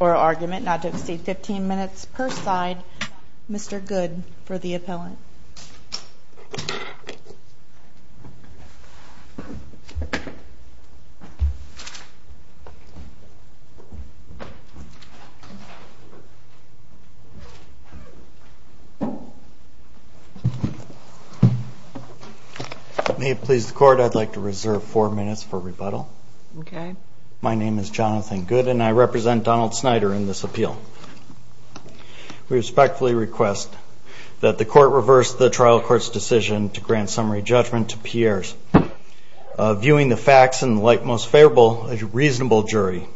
or argument not to exceed 15 minutes per side. Mr. Good for the appellant. May it please the court, I'd like to reserve four minutes for rebuttal. My name is Jonathan Good and I represent Donald Snyder in this appeal. We respectfully request that the court reverse the trial court's decision to grant summary judgment to Pierres. Viewing the facts in the light most favorable, a reasonable jury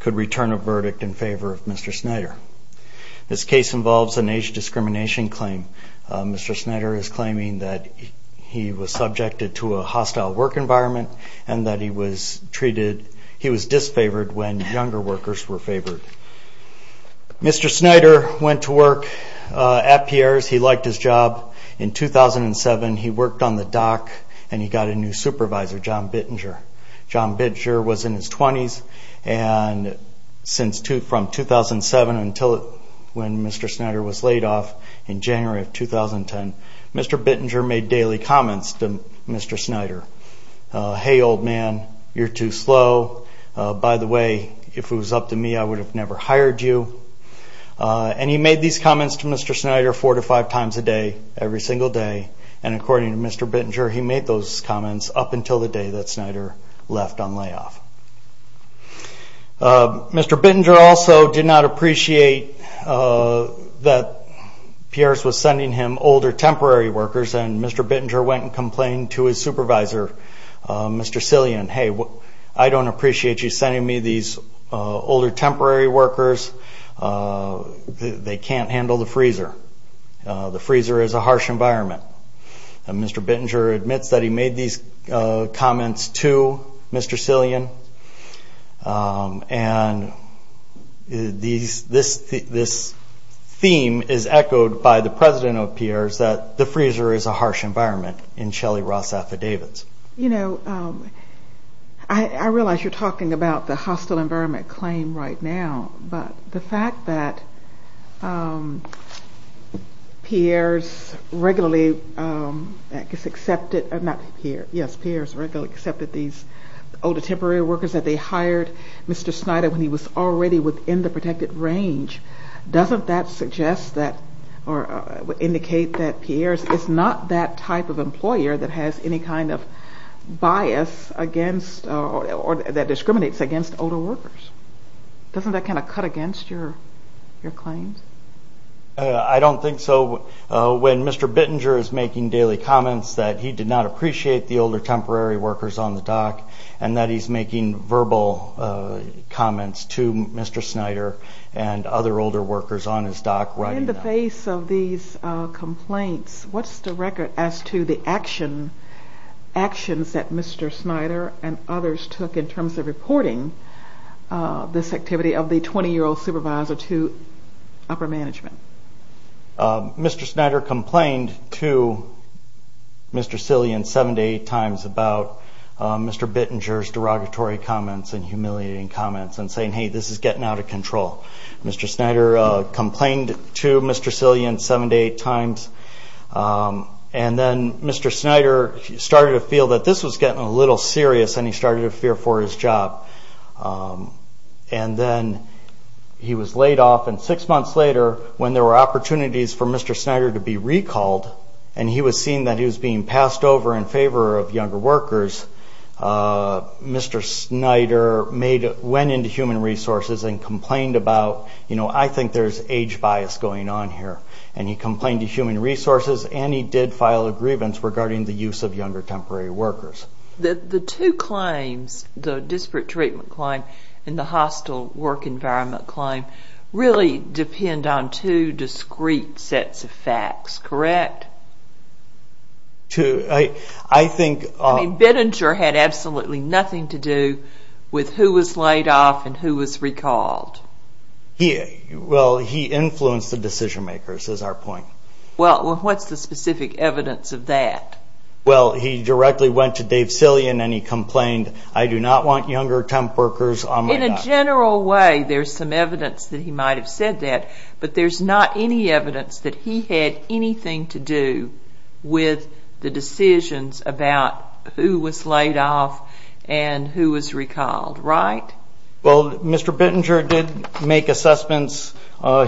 could return a verdict in favor of Mr. Snyder. This case involves an age discrimination claim. Mr. Snyder is claiming that he was subjected to a hostile work environment and that he was treated, he was disfavored when younger workers were favored. Mr. Snyder went to work at Pierres. He liked his job. In 2007 he worked on the dock and he got a new supervisor, John Bittinger. John Bittinger was in his twenties and from 2007 until when Mr. Snyder was laid off in January of 2010. Mr. Bittinger made daily comments to Mr. Snyder. Hey old man, you're too slow. By the way, if it was up to me, I would have never hired you. And he made these comments to Mr. Snyder four to five times a day, every single day. And according to Mr. Bittinger, he made those comments up until the day that Snyder left on layoff. Mr. Bittinger also did not appreciate that Pierres was sending him older temporary workers and Mr. Bittinger went and complained to his supervisor, Mr. Sillian. Hey, I don't appreciate you sending me these older temporary workers. They can't handle the freezer. The freezer is a harsh environment. Mr. Bittinger admits that he made these comments to Mr. Sillian. And this theme is echoed by the president of Pierres that the freezer is a harsh environment in Shelley Ross affidavits. You know, I realize you're talking about the hostile environment claim right now, but the fact that Pierres regularly accepted these older temporary workers that they hired Mr. Snyder when he was already within the protected range, doesn't that suggest that or indicate that Pierres is not that type of employer that has any kind of protection? I don't think so. When Mr. Bittinger is making daily comments that he did not appreciate the older temporary workers on the dock and that he's making verbal comments to Mr. Snyder and other older workers on his dock right in the face of these complaints, what's the record as to the action? Actions that Mr. Snyder and others took in terms of reporting this activity of the 20-year-old supervisor to upper management? Mr. Snyder complained to Mr. Sillian seven to eight times about Mr. Bittinger's derogatory comments and humiliating comments and saying hey, this is getting out of control. Mr. Snyder complained to Mr. Sillian seven to eight times and then Mr. Snyder started to feel that this was getting a little serious and he started to fear for his job. And then he was laid off and six months later when there were opportunities for Mr. Snyder to be recalled and he was seeing that he was being passed over in favor of younger workers, Mr. Snyder went into human resources and complained about I think there's age bias going on here. And he complained to human resources and he did file a grievance regarding the use of younger temporary workers. The two claims, the disparate treatment claim and the hostile work environment claim, really depend on two discrete sets of facts, correct? I think... I mean, Bittinger had absolutely nothing to do with who was laid off and who was recalled. Well, he influenced the decision makers is our point. Well, what's the specific evidence of that? Well, he directly went to Dave Sillian and he complained, I do not want younger temp workers on my dock. In a general way, there's some evidence that he might have said that, but there's not any evidence that he had anything to do with the decisions about who was laid off and who was recalled, right? Well, Mr. Bittinger did make assessments,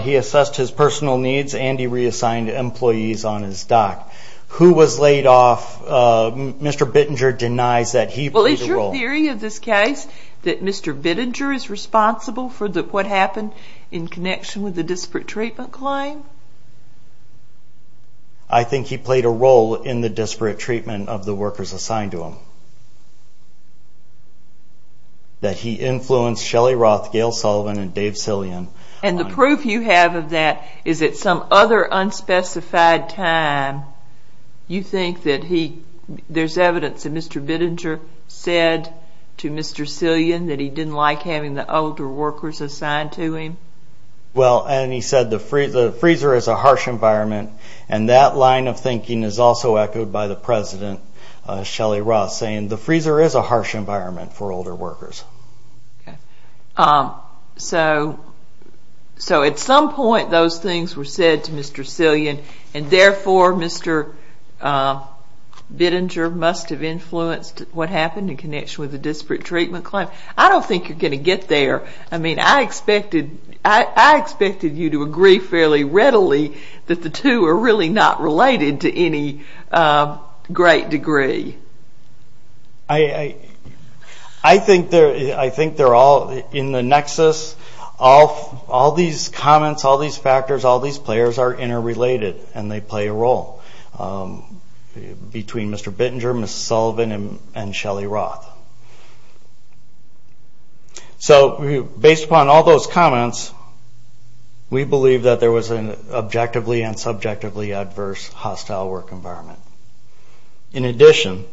he assessed his personal needs and he reassigned employees on his dock. Who was laid off, Mr. Bittinger denies that he played a role. Well, is your theory of this case that Mr. Bittinger is responsible for what happened in connection with the disparate treatment claim? I think he played a role in the disparate treatment of the workers assigned to him. That he influenced Shelly Roth, Gail Sullivan and Dave Sillian. And the proof you have of that is that some other unspecified time, you think that there's evidence that Mr. Bittinger said to Mr. Sillian that he didn't like having the older workers assigned to him? Well, and he said the freezer is a harsh environment and that line of thinking is also echoed by the president, Shelly Roth, saying the freezer is a harsh environment for older workers. Okay. So at some point those things were said to Mr. Sillian and therefore Mr. Bittinger must have influenced what happened in connection with the disparate treatment claim? I don't think you're going to get there. I mean, I expected you to agree fairly readily that the two are really not related to any great degree. I think they're all in the nexus. All these comments, all these factors, all these players are interrelated and they play a role between Mr. Bittinger, Ms. Sullivan and Shelly Roth. So based upon all those comments, we believe that there was an objectively and subjectively adverse hostile work environment. In addition,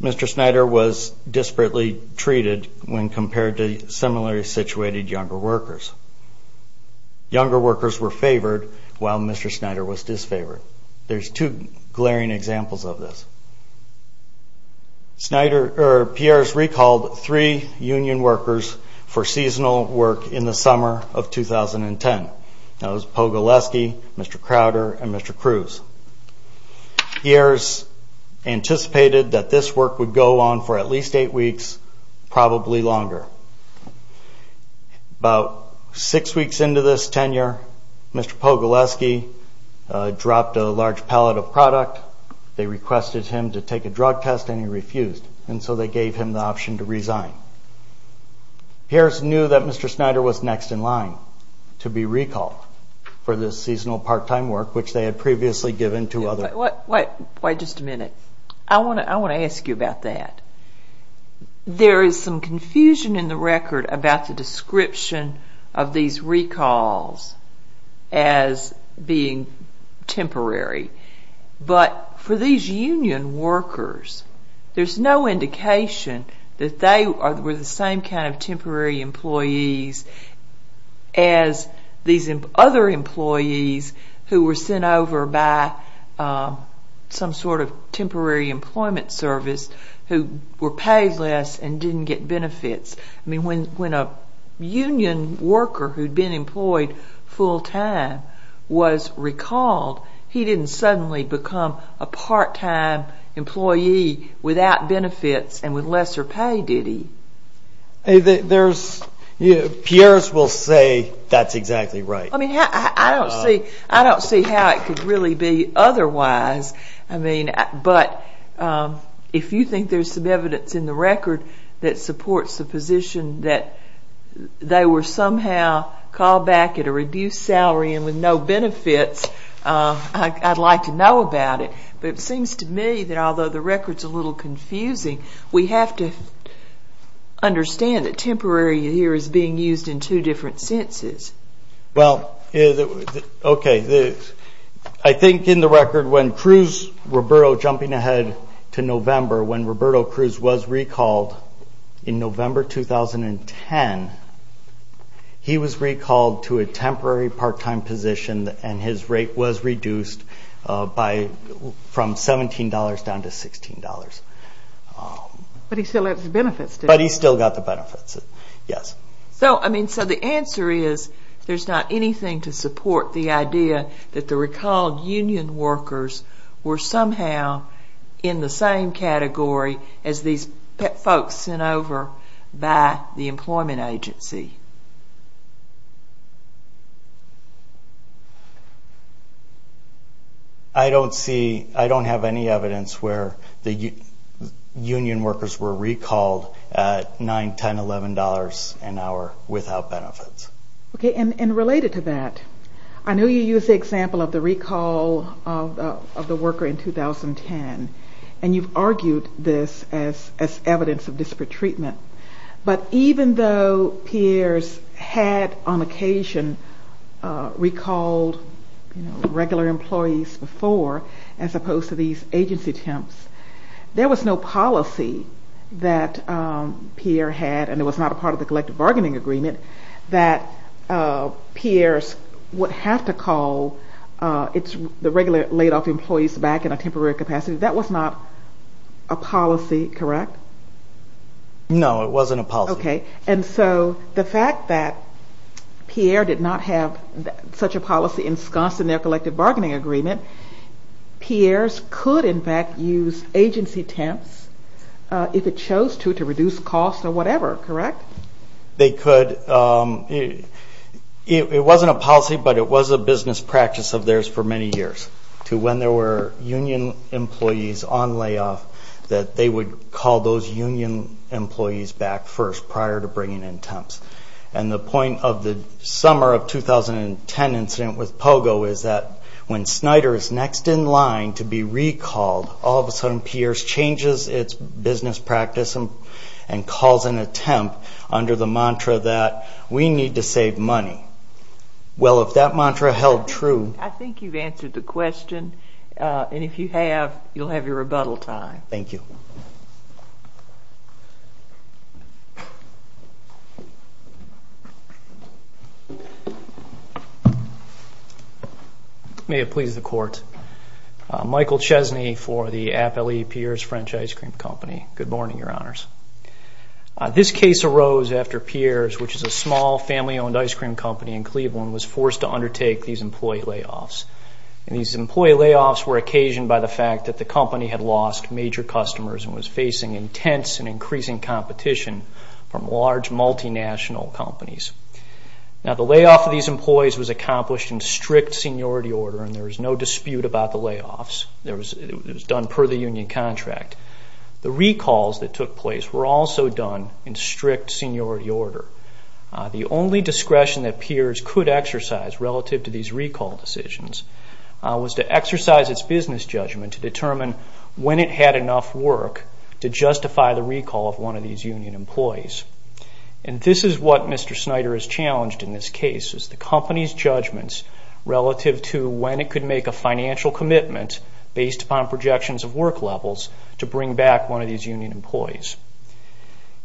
Mr. Snyder was disparately treated when compared to similarly situated younger workers. Younger workers were favored while Mr. Snyder was disfavored. There's two glaring examples of this. Piers recalled three union workers for seasonal work in the summer of 2010. That was Pogoleski, Mr. Crowder and Mr. Cruz. Piers anticipated that this work would go on for at least eight weeks, probably longer. About six weeks into this tenure, Mr. Pogoleski dropped a large pallet of product. They requested him to take a drug test and he refused. And so they gave him the option to resign. Piers knew that Mr. Snyder was next in line to be recalled for this seasonal part-time work, which they had previously given to other... Wait just a minute. I want to ask you about that. There is some confusion in the record about the description of these recalls as being temporary. But for these union workers, there's no indication that they were the same kind of temporary employees as these other employees who were sent over by some sort of temporary employment service who were paid less and didn't get benefits. I mean, when a union worker who had been employed full-time was recalled, he didn't suddenly become a part-time employee without benefits and with lesser pay, did he? Piers will say that's exactly right. I don't see how it could really be otherwise. But if you think there's some evidence in the record that supports the position that they were somehow called back at a reduced salary and with no benefits, I'd like to know about it. But it seems to me that although the record's a little confusing, we have to understand that temporary here is being used in two different senses. Well, okay. I think in the record when Cruz Roberto, jumping ahead to November, when Roberto Cruz was recalled in November 2010, he was recalled to a temporary part-time position and his rate was reduced from $17 down to $16. But he still had his benefits, didn't he? But he still got the benefits, yes. So, I mean, so the answer is there's not anything to support the idea that the recalled union workers were somehow in the same category as these folks sent over by the employment agency. I don't see, I don't have any evidence where the union workers were recalled at $9, $10, $11 an hour without benefits. Okay, and related to that, I know you used the example of the recall of the worker in 2010, and you've argued this as evidence of disparate treatment. But even though Piers had on occasion recalled regular employees before, as opposed to these agency attempts, there was no policy that Piers had, and it was not a part of the collective bargaining agreement, that Piers would have to call the regular laid-off employees back in a temporary capacity. That was not a policy, correct? No, it wasn't a policy. Okay, and so the fact that Piers did not have such a policy ensconced in their collective bargaining agreement, Piers could, in fact, use agency attempts if it chose to, to reduce costs or whatever, correct? They could. It wasn't a policy, but it was a business practice of theirs for many years, to when there were union employees on layoff, that they would call those union employees back first prior to bringing in temps. And the point of the summer of 2010 incident with POGO is that when Snyder is next in line to be recalled, all of a sudden Piers changes its business practice and calls an attempt under the mantra that we need to save money. Well, if that mantra held true... I think you've answered the question, and if you have, you'll have your rebuttal time. Thank you. May it please the Court. Michael Chesney for the Appellee Piers French Ice Cream Company. Good morning, Your Honors. This case arose after Piers, which is a small family-owned ice cream company in Cleveland, was forced to undertake these employee layoffs. And these employee layoffs were occasioned by the fact that the company had lost major customers and was facing intense and increasing competition from large multinational companies. Now, the layoff of these employees was accomplished in strict seniority order, and there was no dispute about the layoffs. It was done per the union contract. The recalls that took place were also done in strict seniority order. The only discretion that Piers could exercise relative to these recall decisions was to exercise its business judgment to determine when it had enough work to justify the recall of one of these union employees. And this is what Mr. Snyder has challenged in this case, is the company's judgments relative to when it could make a financial commitment based upon projections of work levels to bring back one of these union employees.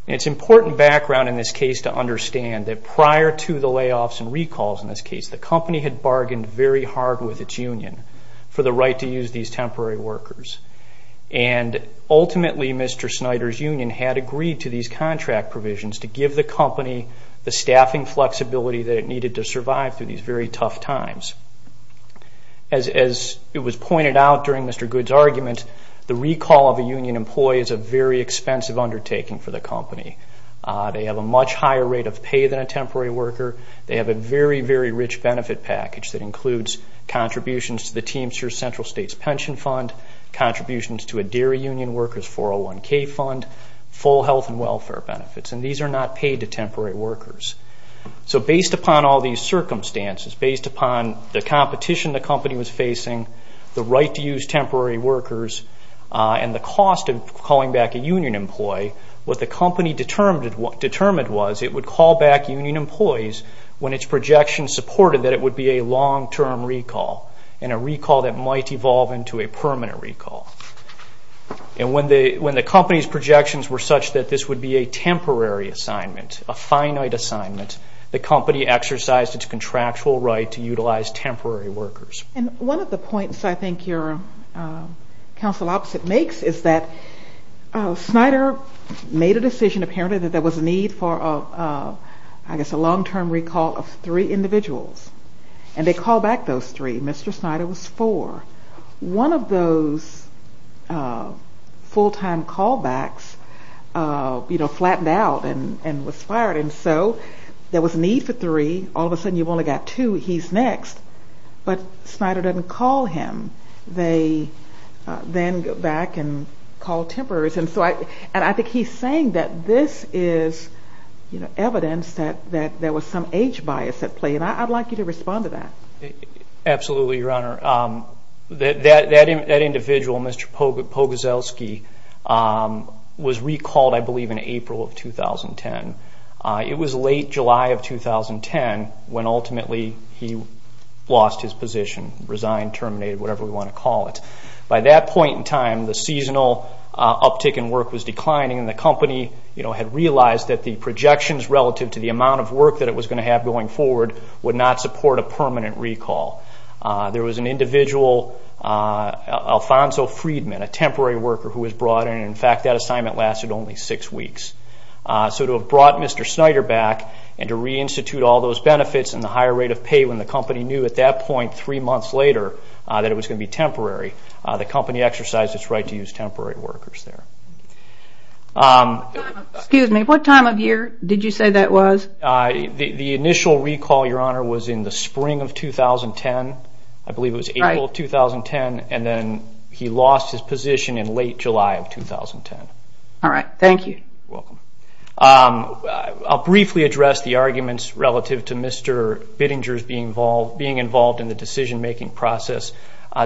And it's important background in this case to understand that prior to the layoffs and recalls in this case, the company had bargained very hard with its union for the right to use these temporary workers. And ultimately, Mr. Snyder's union had agreed to these contract provisions to give the company the staffing flexibility that it needed to survive through these very tough times. As it was pointed out during Mr. Good's argument, the recall of a union employee is a very expensive undertaking for the company. They have a much higher rate of pay than a temporary worker. They have a very, very rich benefit package that includes contributions to the Teamster Central States Pension Fund, contributions to a dairy union worker's 401k fund, full health and welfare benefits. And these are not paid to temporary workers. So based upon all these circumstances, based upon the competition the company was facing, the right to use temporary workers, and the cost of calling back a union employee, what the company determined was it would call back union employees when its projections supported that it would be a long-term recall, and a recall that might evolve into a permanent recall. And when the company's projections were such that this would be a temporary assignment, a finite assignment, the company exercised its contractual right to utilize temporary workers. And one of the points I think your counsel opposite makes is that Snyder made a decision apparently that there was a need for, I guess, a long-term recall of three individuals. And they called back those three. Mr. Snyder was four. One of those full-time callbacks flattened out and was fired. And so there was a need for three. All of a sudden you've only got two. He's next. But Snyder doesn't call him. They then go back and call temporaries. And I think he's saying that this is evidence that there was some age bias at play. And I'd like you to respond to that. Absolutely, Your Honor. That individual, Mr. Pogorzelski, was recalled, I believe, in April of 2010. It was late July of 2010 when ultimately he lost his position, resigned, terminated, whatever we want to call it. By that point in time, the seasonal uptick in work was declining, and the company had realized that the projections relative to the amount of work that it was going to have going forward would not support a permanent recall. There was an individual, Alfonso Friedman, a temporary worker who was brought in. In fact, that assignment lasted only six weeks. So to have brought Mr. Snyder back and to reinstitute all those benefits and the higher rate of pay when the company knew at that point three months later that it was going to be temporary, the company exercised its right to use temporary workers there. Excuse me. What time of year did you say that was? The initial recall, Your Honor, was in the spring of 2010. I believe it was April of 2010, and then he lost his position in late July of 2010. All right. Thank you. You're welcome. I'll briefly address the arguments relative to Mr. Bittinger's being involved in the decision-making process.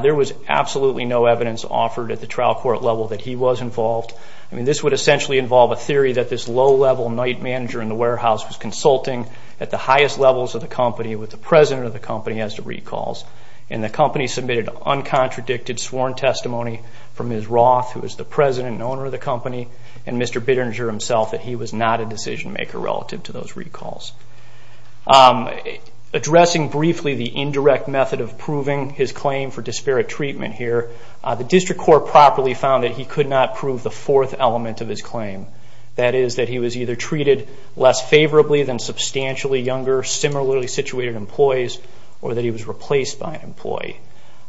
There was absolutely no evidence offered at the trial court level that he was involved. I mean, this would essentially involve a theory that this low-level night manager in the warehouse was consulting at the highest levels of the company with the president of the company as to recalls, and the company submitted uncontradicted sworn testimony from Ms. Roth, who was the president and owner of the company, and Mr. Bittinger himself that he was not a decision-maker relative to those recalls. Addressing briefly the indirect method of proving his claim for disparate treatment here, the district court properly found that he could not prove the fourth element of his claim, that is that he was either treated less favorably than substantially younger, similarly situated employees, or that he was replaced by an employee.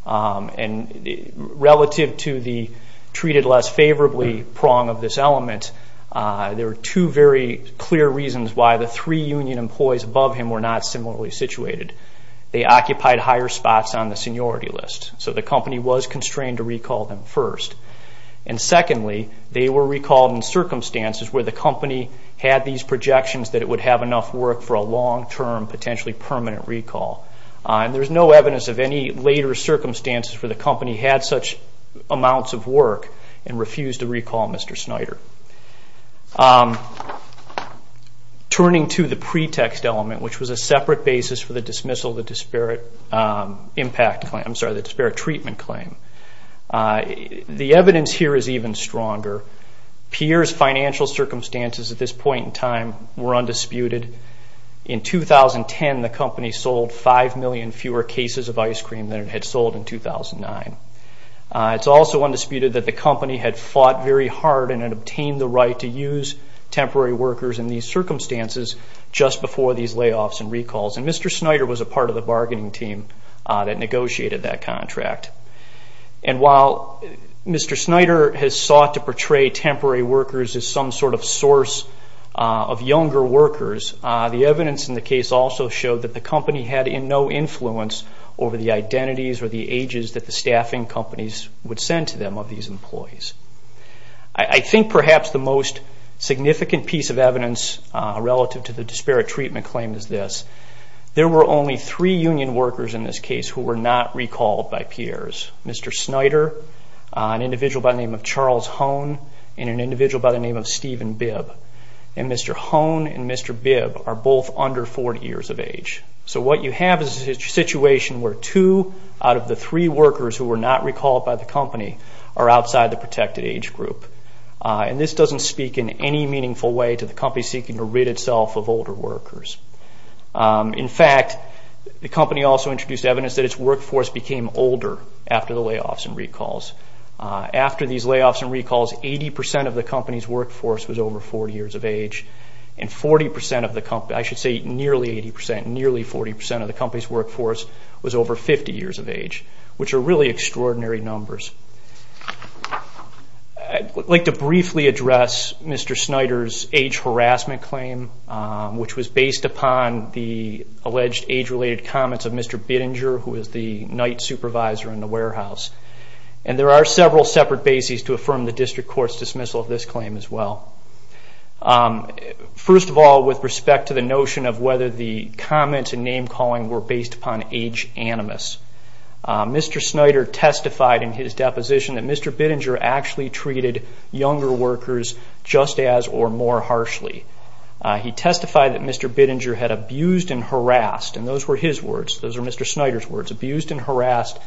And relative to the treated less favorably prong of this element, there are two very clear reasons why the three union employees above him were not similarly situated. They occupied higher spots on the seniority list, so the company was constrained to recall them first. And secondly, they were recalled in circumstances where the company had these projections that it would have enough work for a long-term, potentially permanent recall. And there's no evidence of any later circumstances where the company had such amounts of work and refused to recall Mr. Snyder. Turning to the pretext element, which was a separate basis for the dismissal of the disparate impact claim, I'm sorry, the disparate treatment claim, the evidence here is even stronger. Pierre's financial circumstances at this point in time were undisputed. In 2010, the company sold 5 million fewer cases of ice cream than it had sold in 2009. It's also undisputed that the company had fought very hard and had obtained the right to use temporary workers in these circumstances just before these layoffs and recalls. And Mr. Snyder was a part of the bargaining team that negotiated that contract. And while Mr. Snyder has sought to portray temporary workers as some sort of source of younger workers, the evidence in the case also showed that the company had no influence over the identities or the ages that the staffing companies would send to them of these employees. I think perhaps the most significant piece of evidence relative to the disparate treatment claim is this. There were only three union workers in this case who were not recalled by Pierre's. Mr. Snyder, an individual by the name of Charles Hone, and an individual by the name of Stephen Bibb. And Mr. Hone and Mr. Bibb are both under 40 years of age. So what you have is a situation where two out of the three workers who were not recalled by the company are outside the protected age group. And this doesn't speak in any meaningful way to the company seeking to rid itself of older workers. In fact, the company also introduced evidence that its workforce became older after the layoffs and recalls. After these layoffs and recalls, 80% of the company's workforce was over 40 years of age, and 40% of the company, I should say nearly 80%, nearly 40% of the company's workforce was over 50 years of age, which are really extraordinary numbers. I'd like to briefly address Mr. Snyder's age harassment claim, which was based upon the alleged age-related comments of Mr. Bittinger, who was the night supervisor in the warehouse. And there are several separate bases to affirm the district court's dismissal of this claim as well. First of all, with respect to the notion of whether the comments and name-calling were based upon age animus, Mr. Snyder testified in his deposition that Mr. Bittinger actually treated younger workers just as or more harshly. He testified that Mr. Bittinger had abused and harassed, and those were his words, those were Mr. Snyder's words, abused and harassed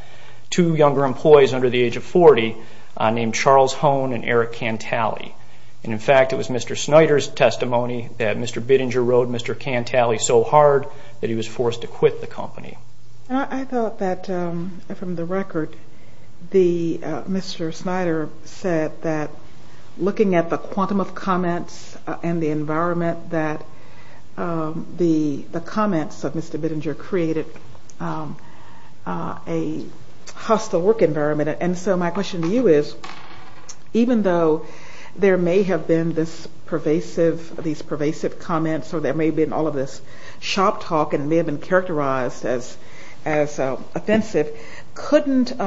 two younger employees under the age of 40 named Charles Hone and Eric Cantale. And in fact, it was Mr. Snyder's testimony that Mr. Bittinger rode Mr. Cantale so hard that he was forced to quit the company. I thought that from the record, Mr. Snyder said that looking at the quantum of comments and the environment that the comments of Mr. Bittinger created a hostile work environment. And so my question to you is, even though there may have been these pervasive comments or there may have been all of this shop talk and it may have been characterized as offensive, couldn't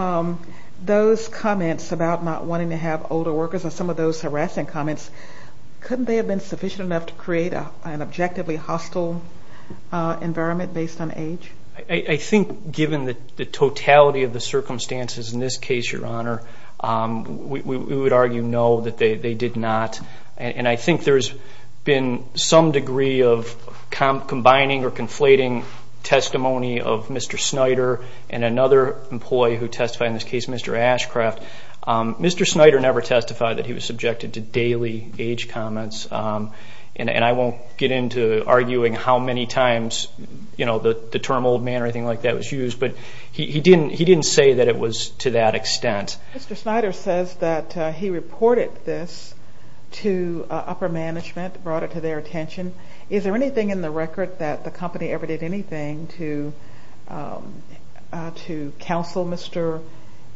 those comments about not wanting to have older workers or some of those harassing comments, couldn't they have been sufficient enough to create an objectively hostile environment based on age? I think given the totality of the circumstances in this case, Your Honor, we would argue no, that they did not. And I think there's been some degree of combining or conflating testimony of Mr. Snyder and another employee who testified in this case, Mr. Ashcraft. Mr. Snyder never testified that he was subjected to daily age comments, and I won't get into arguing how many times the term old man or anything like that was used, but he didn't say that it was to that extent. Mr. Snyder says that he reported this to upper management, brought it to their attention. Is there anything in the record that the company ever did anything to counsel Mr.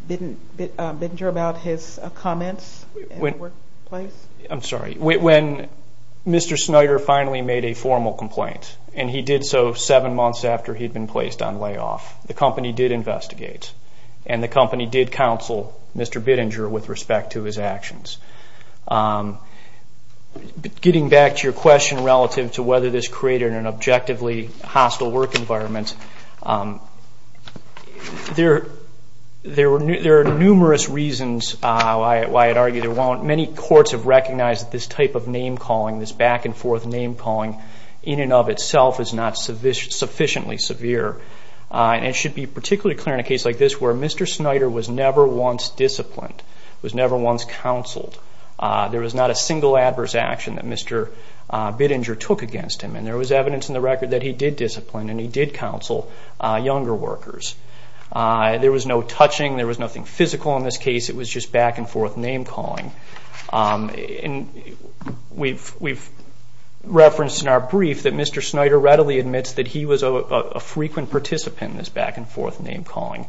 Bittinger about his comments in the workplace? I'm sorry. When Mr. Snyder finally made a formal complaint, and he did so seven months after he'd been placed on layoff, the company did investigate, and the company did counsel Mr. Bittinger with respect to his actions. Getting back to your question relative to whether this created an objectively hostile work environment, there are numerous reasons why I'd argue there weren't. Many courts have recognized that this type of name-calling, this back-and-forth name-calling, in and of itself is not sufficiently severe, and it should be particularly clear in a case like this where Mr. Snyder was never once disciplined, was never once counseled. There was not a single adverse action that Mr. Bittinger took against him, and there was evidence in the record that he did discipline and he did counsel younger workers. There was no touching. There was nothing physical in this case. It was just back-and-forth name-calling. And we've referenced in our brief that Mr. Snyder readily admits that he was a frequent participant in this back-and-forth name-calling,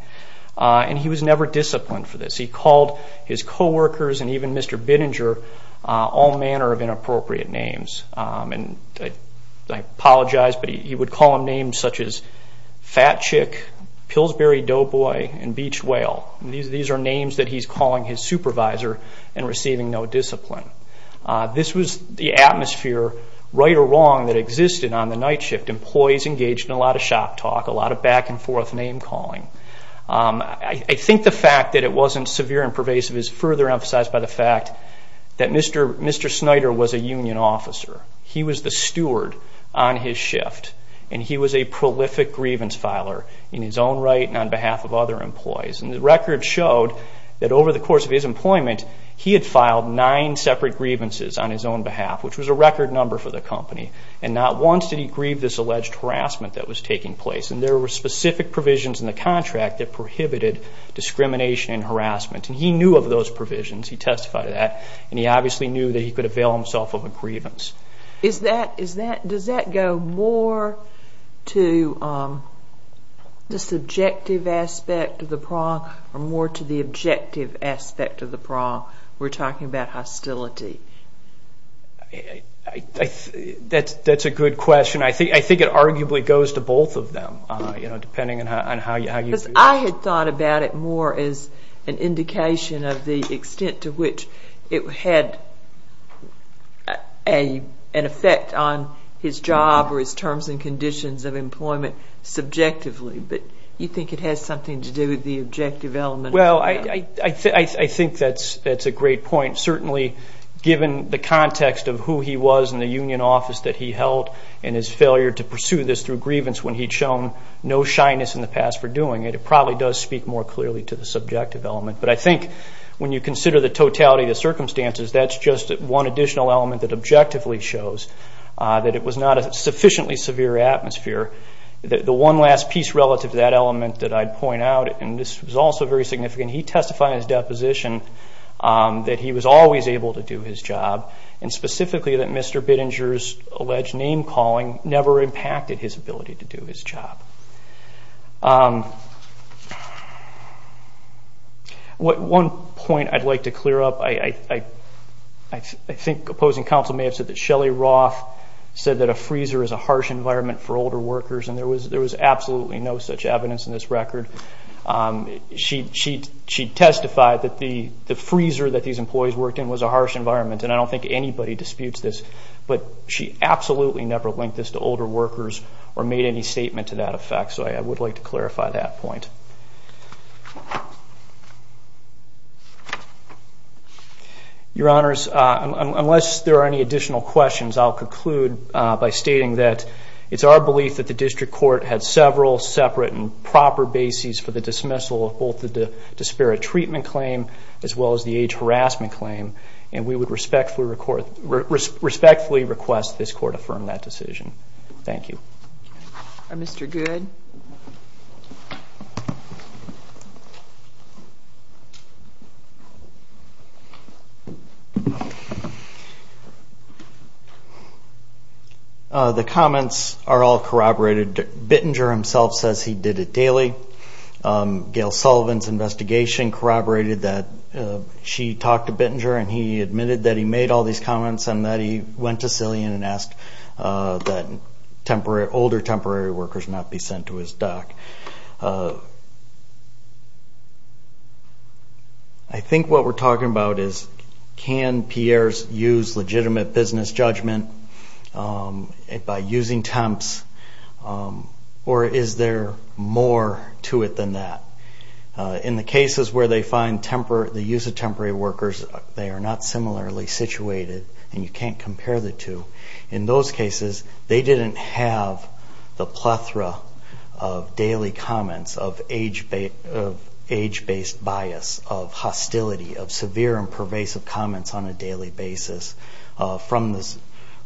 and he was never disciplined for this. He called his co-workers and even Mr. Bittinger all manner of inappropriate names. And I apologize, but he would call them names such as Fat Chick, Pillsbury Doughboy, and Beach Whale. These are names that he's calling his supervisor and receiving no discipline. This was the atmosphere, right or wrong, that existed on the night shift. Employees engaged in a lot of shop talk, a lot of back-and-forth name-calling. I think the fact that it wasn't severe and pervasive is further emphasized by the fact that Mr. Snyder was a union officer. He was the steward on his shift, and he was a prolific grievance filer in his own right and on behalf of other employees, and the record showed that over the course of his employment, he had filed nine separate grievances on his own behalf, which was a record number for the company. And not once did he grieve this alleged harassment that was taking place, and there were specific provisions in the contract that prohibited discrimination and harassment. And he knew of those provisions. He testified to that, and he obviously knew that he could avail himself of a grievance. Does that go more to the subjective aspect of the prong or more to the objective aspect of the prong? We're talking about hostility. That's a good question. I think it arguably goes to both of them, depending on how you view it. I had thought about it more as an indication of the extent to which it had an effect on his job or his terms and conditions of employment subjectively, but you think it has something to do with the objective element? Well, I think that's a great point. Certainly given the context of who he was in the union office that he held and his failure to pursue this through grievance when he'd shown no shyness in the past for doing it, it probably does speak more clearly to the subjective element. But I think when you consider the totality of the circumstances, that's just one additional element that objectively shows that it was not a sufficiently severe atmosphere. The one last piece relative to that element that I'd point out, and this was also very significant, he testified in his deposition that he was always able to do his job, and specifically that Mr. Bittinger's alleged name-calling never impacted his ability to do his job. One point I'd like to clear up. I think opposing counsel may have said that Shelley Roth said that a freezer is a harsh environment for older workers, and there was absolutely no such evidence in this record. She testified that the freezer that these employees worked in was a harsh environment, and I don't think anybody disputes this, but she absolutely never linked this to older workers or made any statement to that effect. So I would like to clarify that point. Your Honors, unless there are any additional questions, I'll conclude by stating that it's our belief that the district court had several separate and proper bases for the dismissal of both the disparate treatment claim as well as the age harassment claim, and we would respectfully request this court affirm that decision. Thank you. Mr. Good? The comments are all corroborated. Bittinger himself says he did it daily. Gail Sullivan's investigation corroborated that she talked to Bittinger and he admitted that he made all these comments and that he went to Cillian and asked that older temporary workers not be sent to his dock. I think what we're talking about is can peers use legitimate business judgment by using temps, or is there more to it than that? In the cases where they find the use of temporary workers, they are not similarly situated and you can't compare the two. In those cases, they didn't have the plethora of daily comments of age-based bias, of hostility, of severe and pervasive comments on a daily basis, from the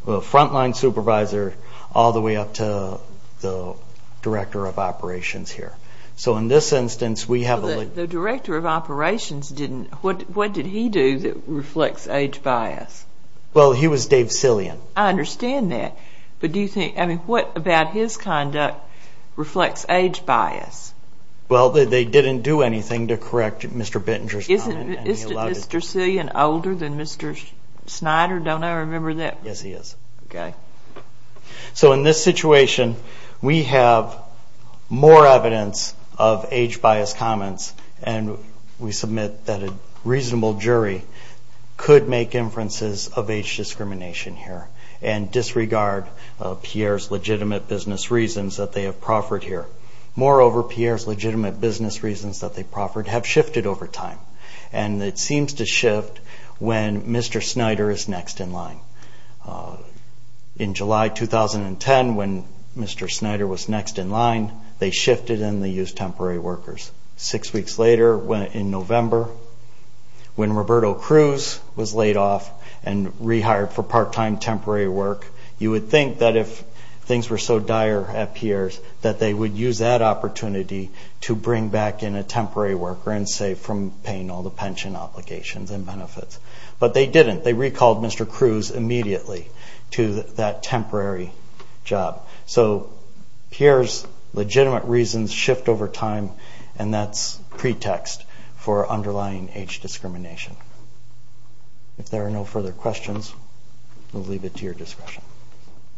frontline supervisor all the way up to the director of operations here. So in this instance, we have a little bit. The director of operations didn't, what did he do that reflects age bias? Well, he was Dave Cillian. I understand that, but do you think, I mean, what about his conduct reflects age bias? Well, they didn't do anything to correct Mr. Bittinger's comment. Is Mr. Cillian older than Mr. Snyder? Don't I remember that? Yes, he is. Okay. So in this situation, we have more evidence of age-biased comments, and we submit that a reasonable jury could make inferences of age discrimination here and disregard Pierre's legitimate business reasons that they have proffered here. Moreover, Pierre's legitimate business reasons that they proffered have shifted over time, and it seems to shift when Mr. Snyder is next in line. In July 2010, when Mr. Snyder was next in line, they shifted and they used temporary workers. Six weeks later, in November, when Roberto Cruz was laid off and rehired for part-time temporary work, you would think that if things were so dire at Pierre's that they would use that opportunity to bring back in a temporary worker and save from paying all the pension obligations and benefits. But they didn't. They recalled Mr. Cruz immediately to that temporary job. So Pierre's legitimate reasons shift over time, and that's pretext for underlying age discrimination. If there are no further questions, we'll leave it to your discretion.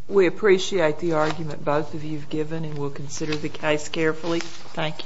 We appreciate the argument both of you have given, and we'll consider the case carefully. Thank you.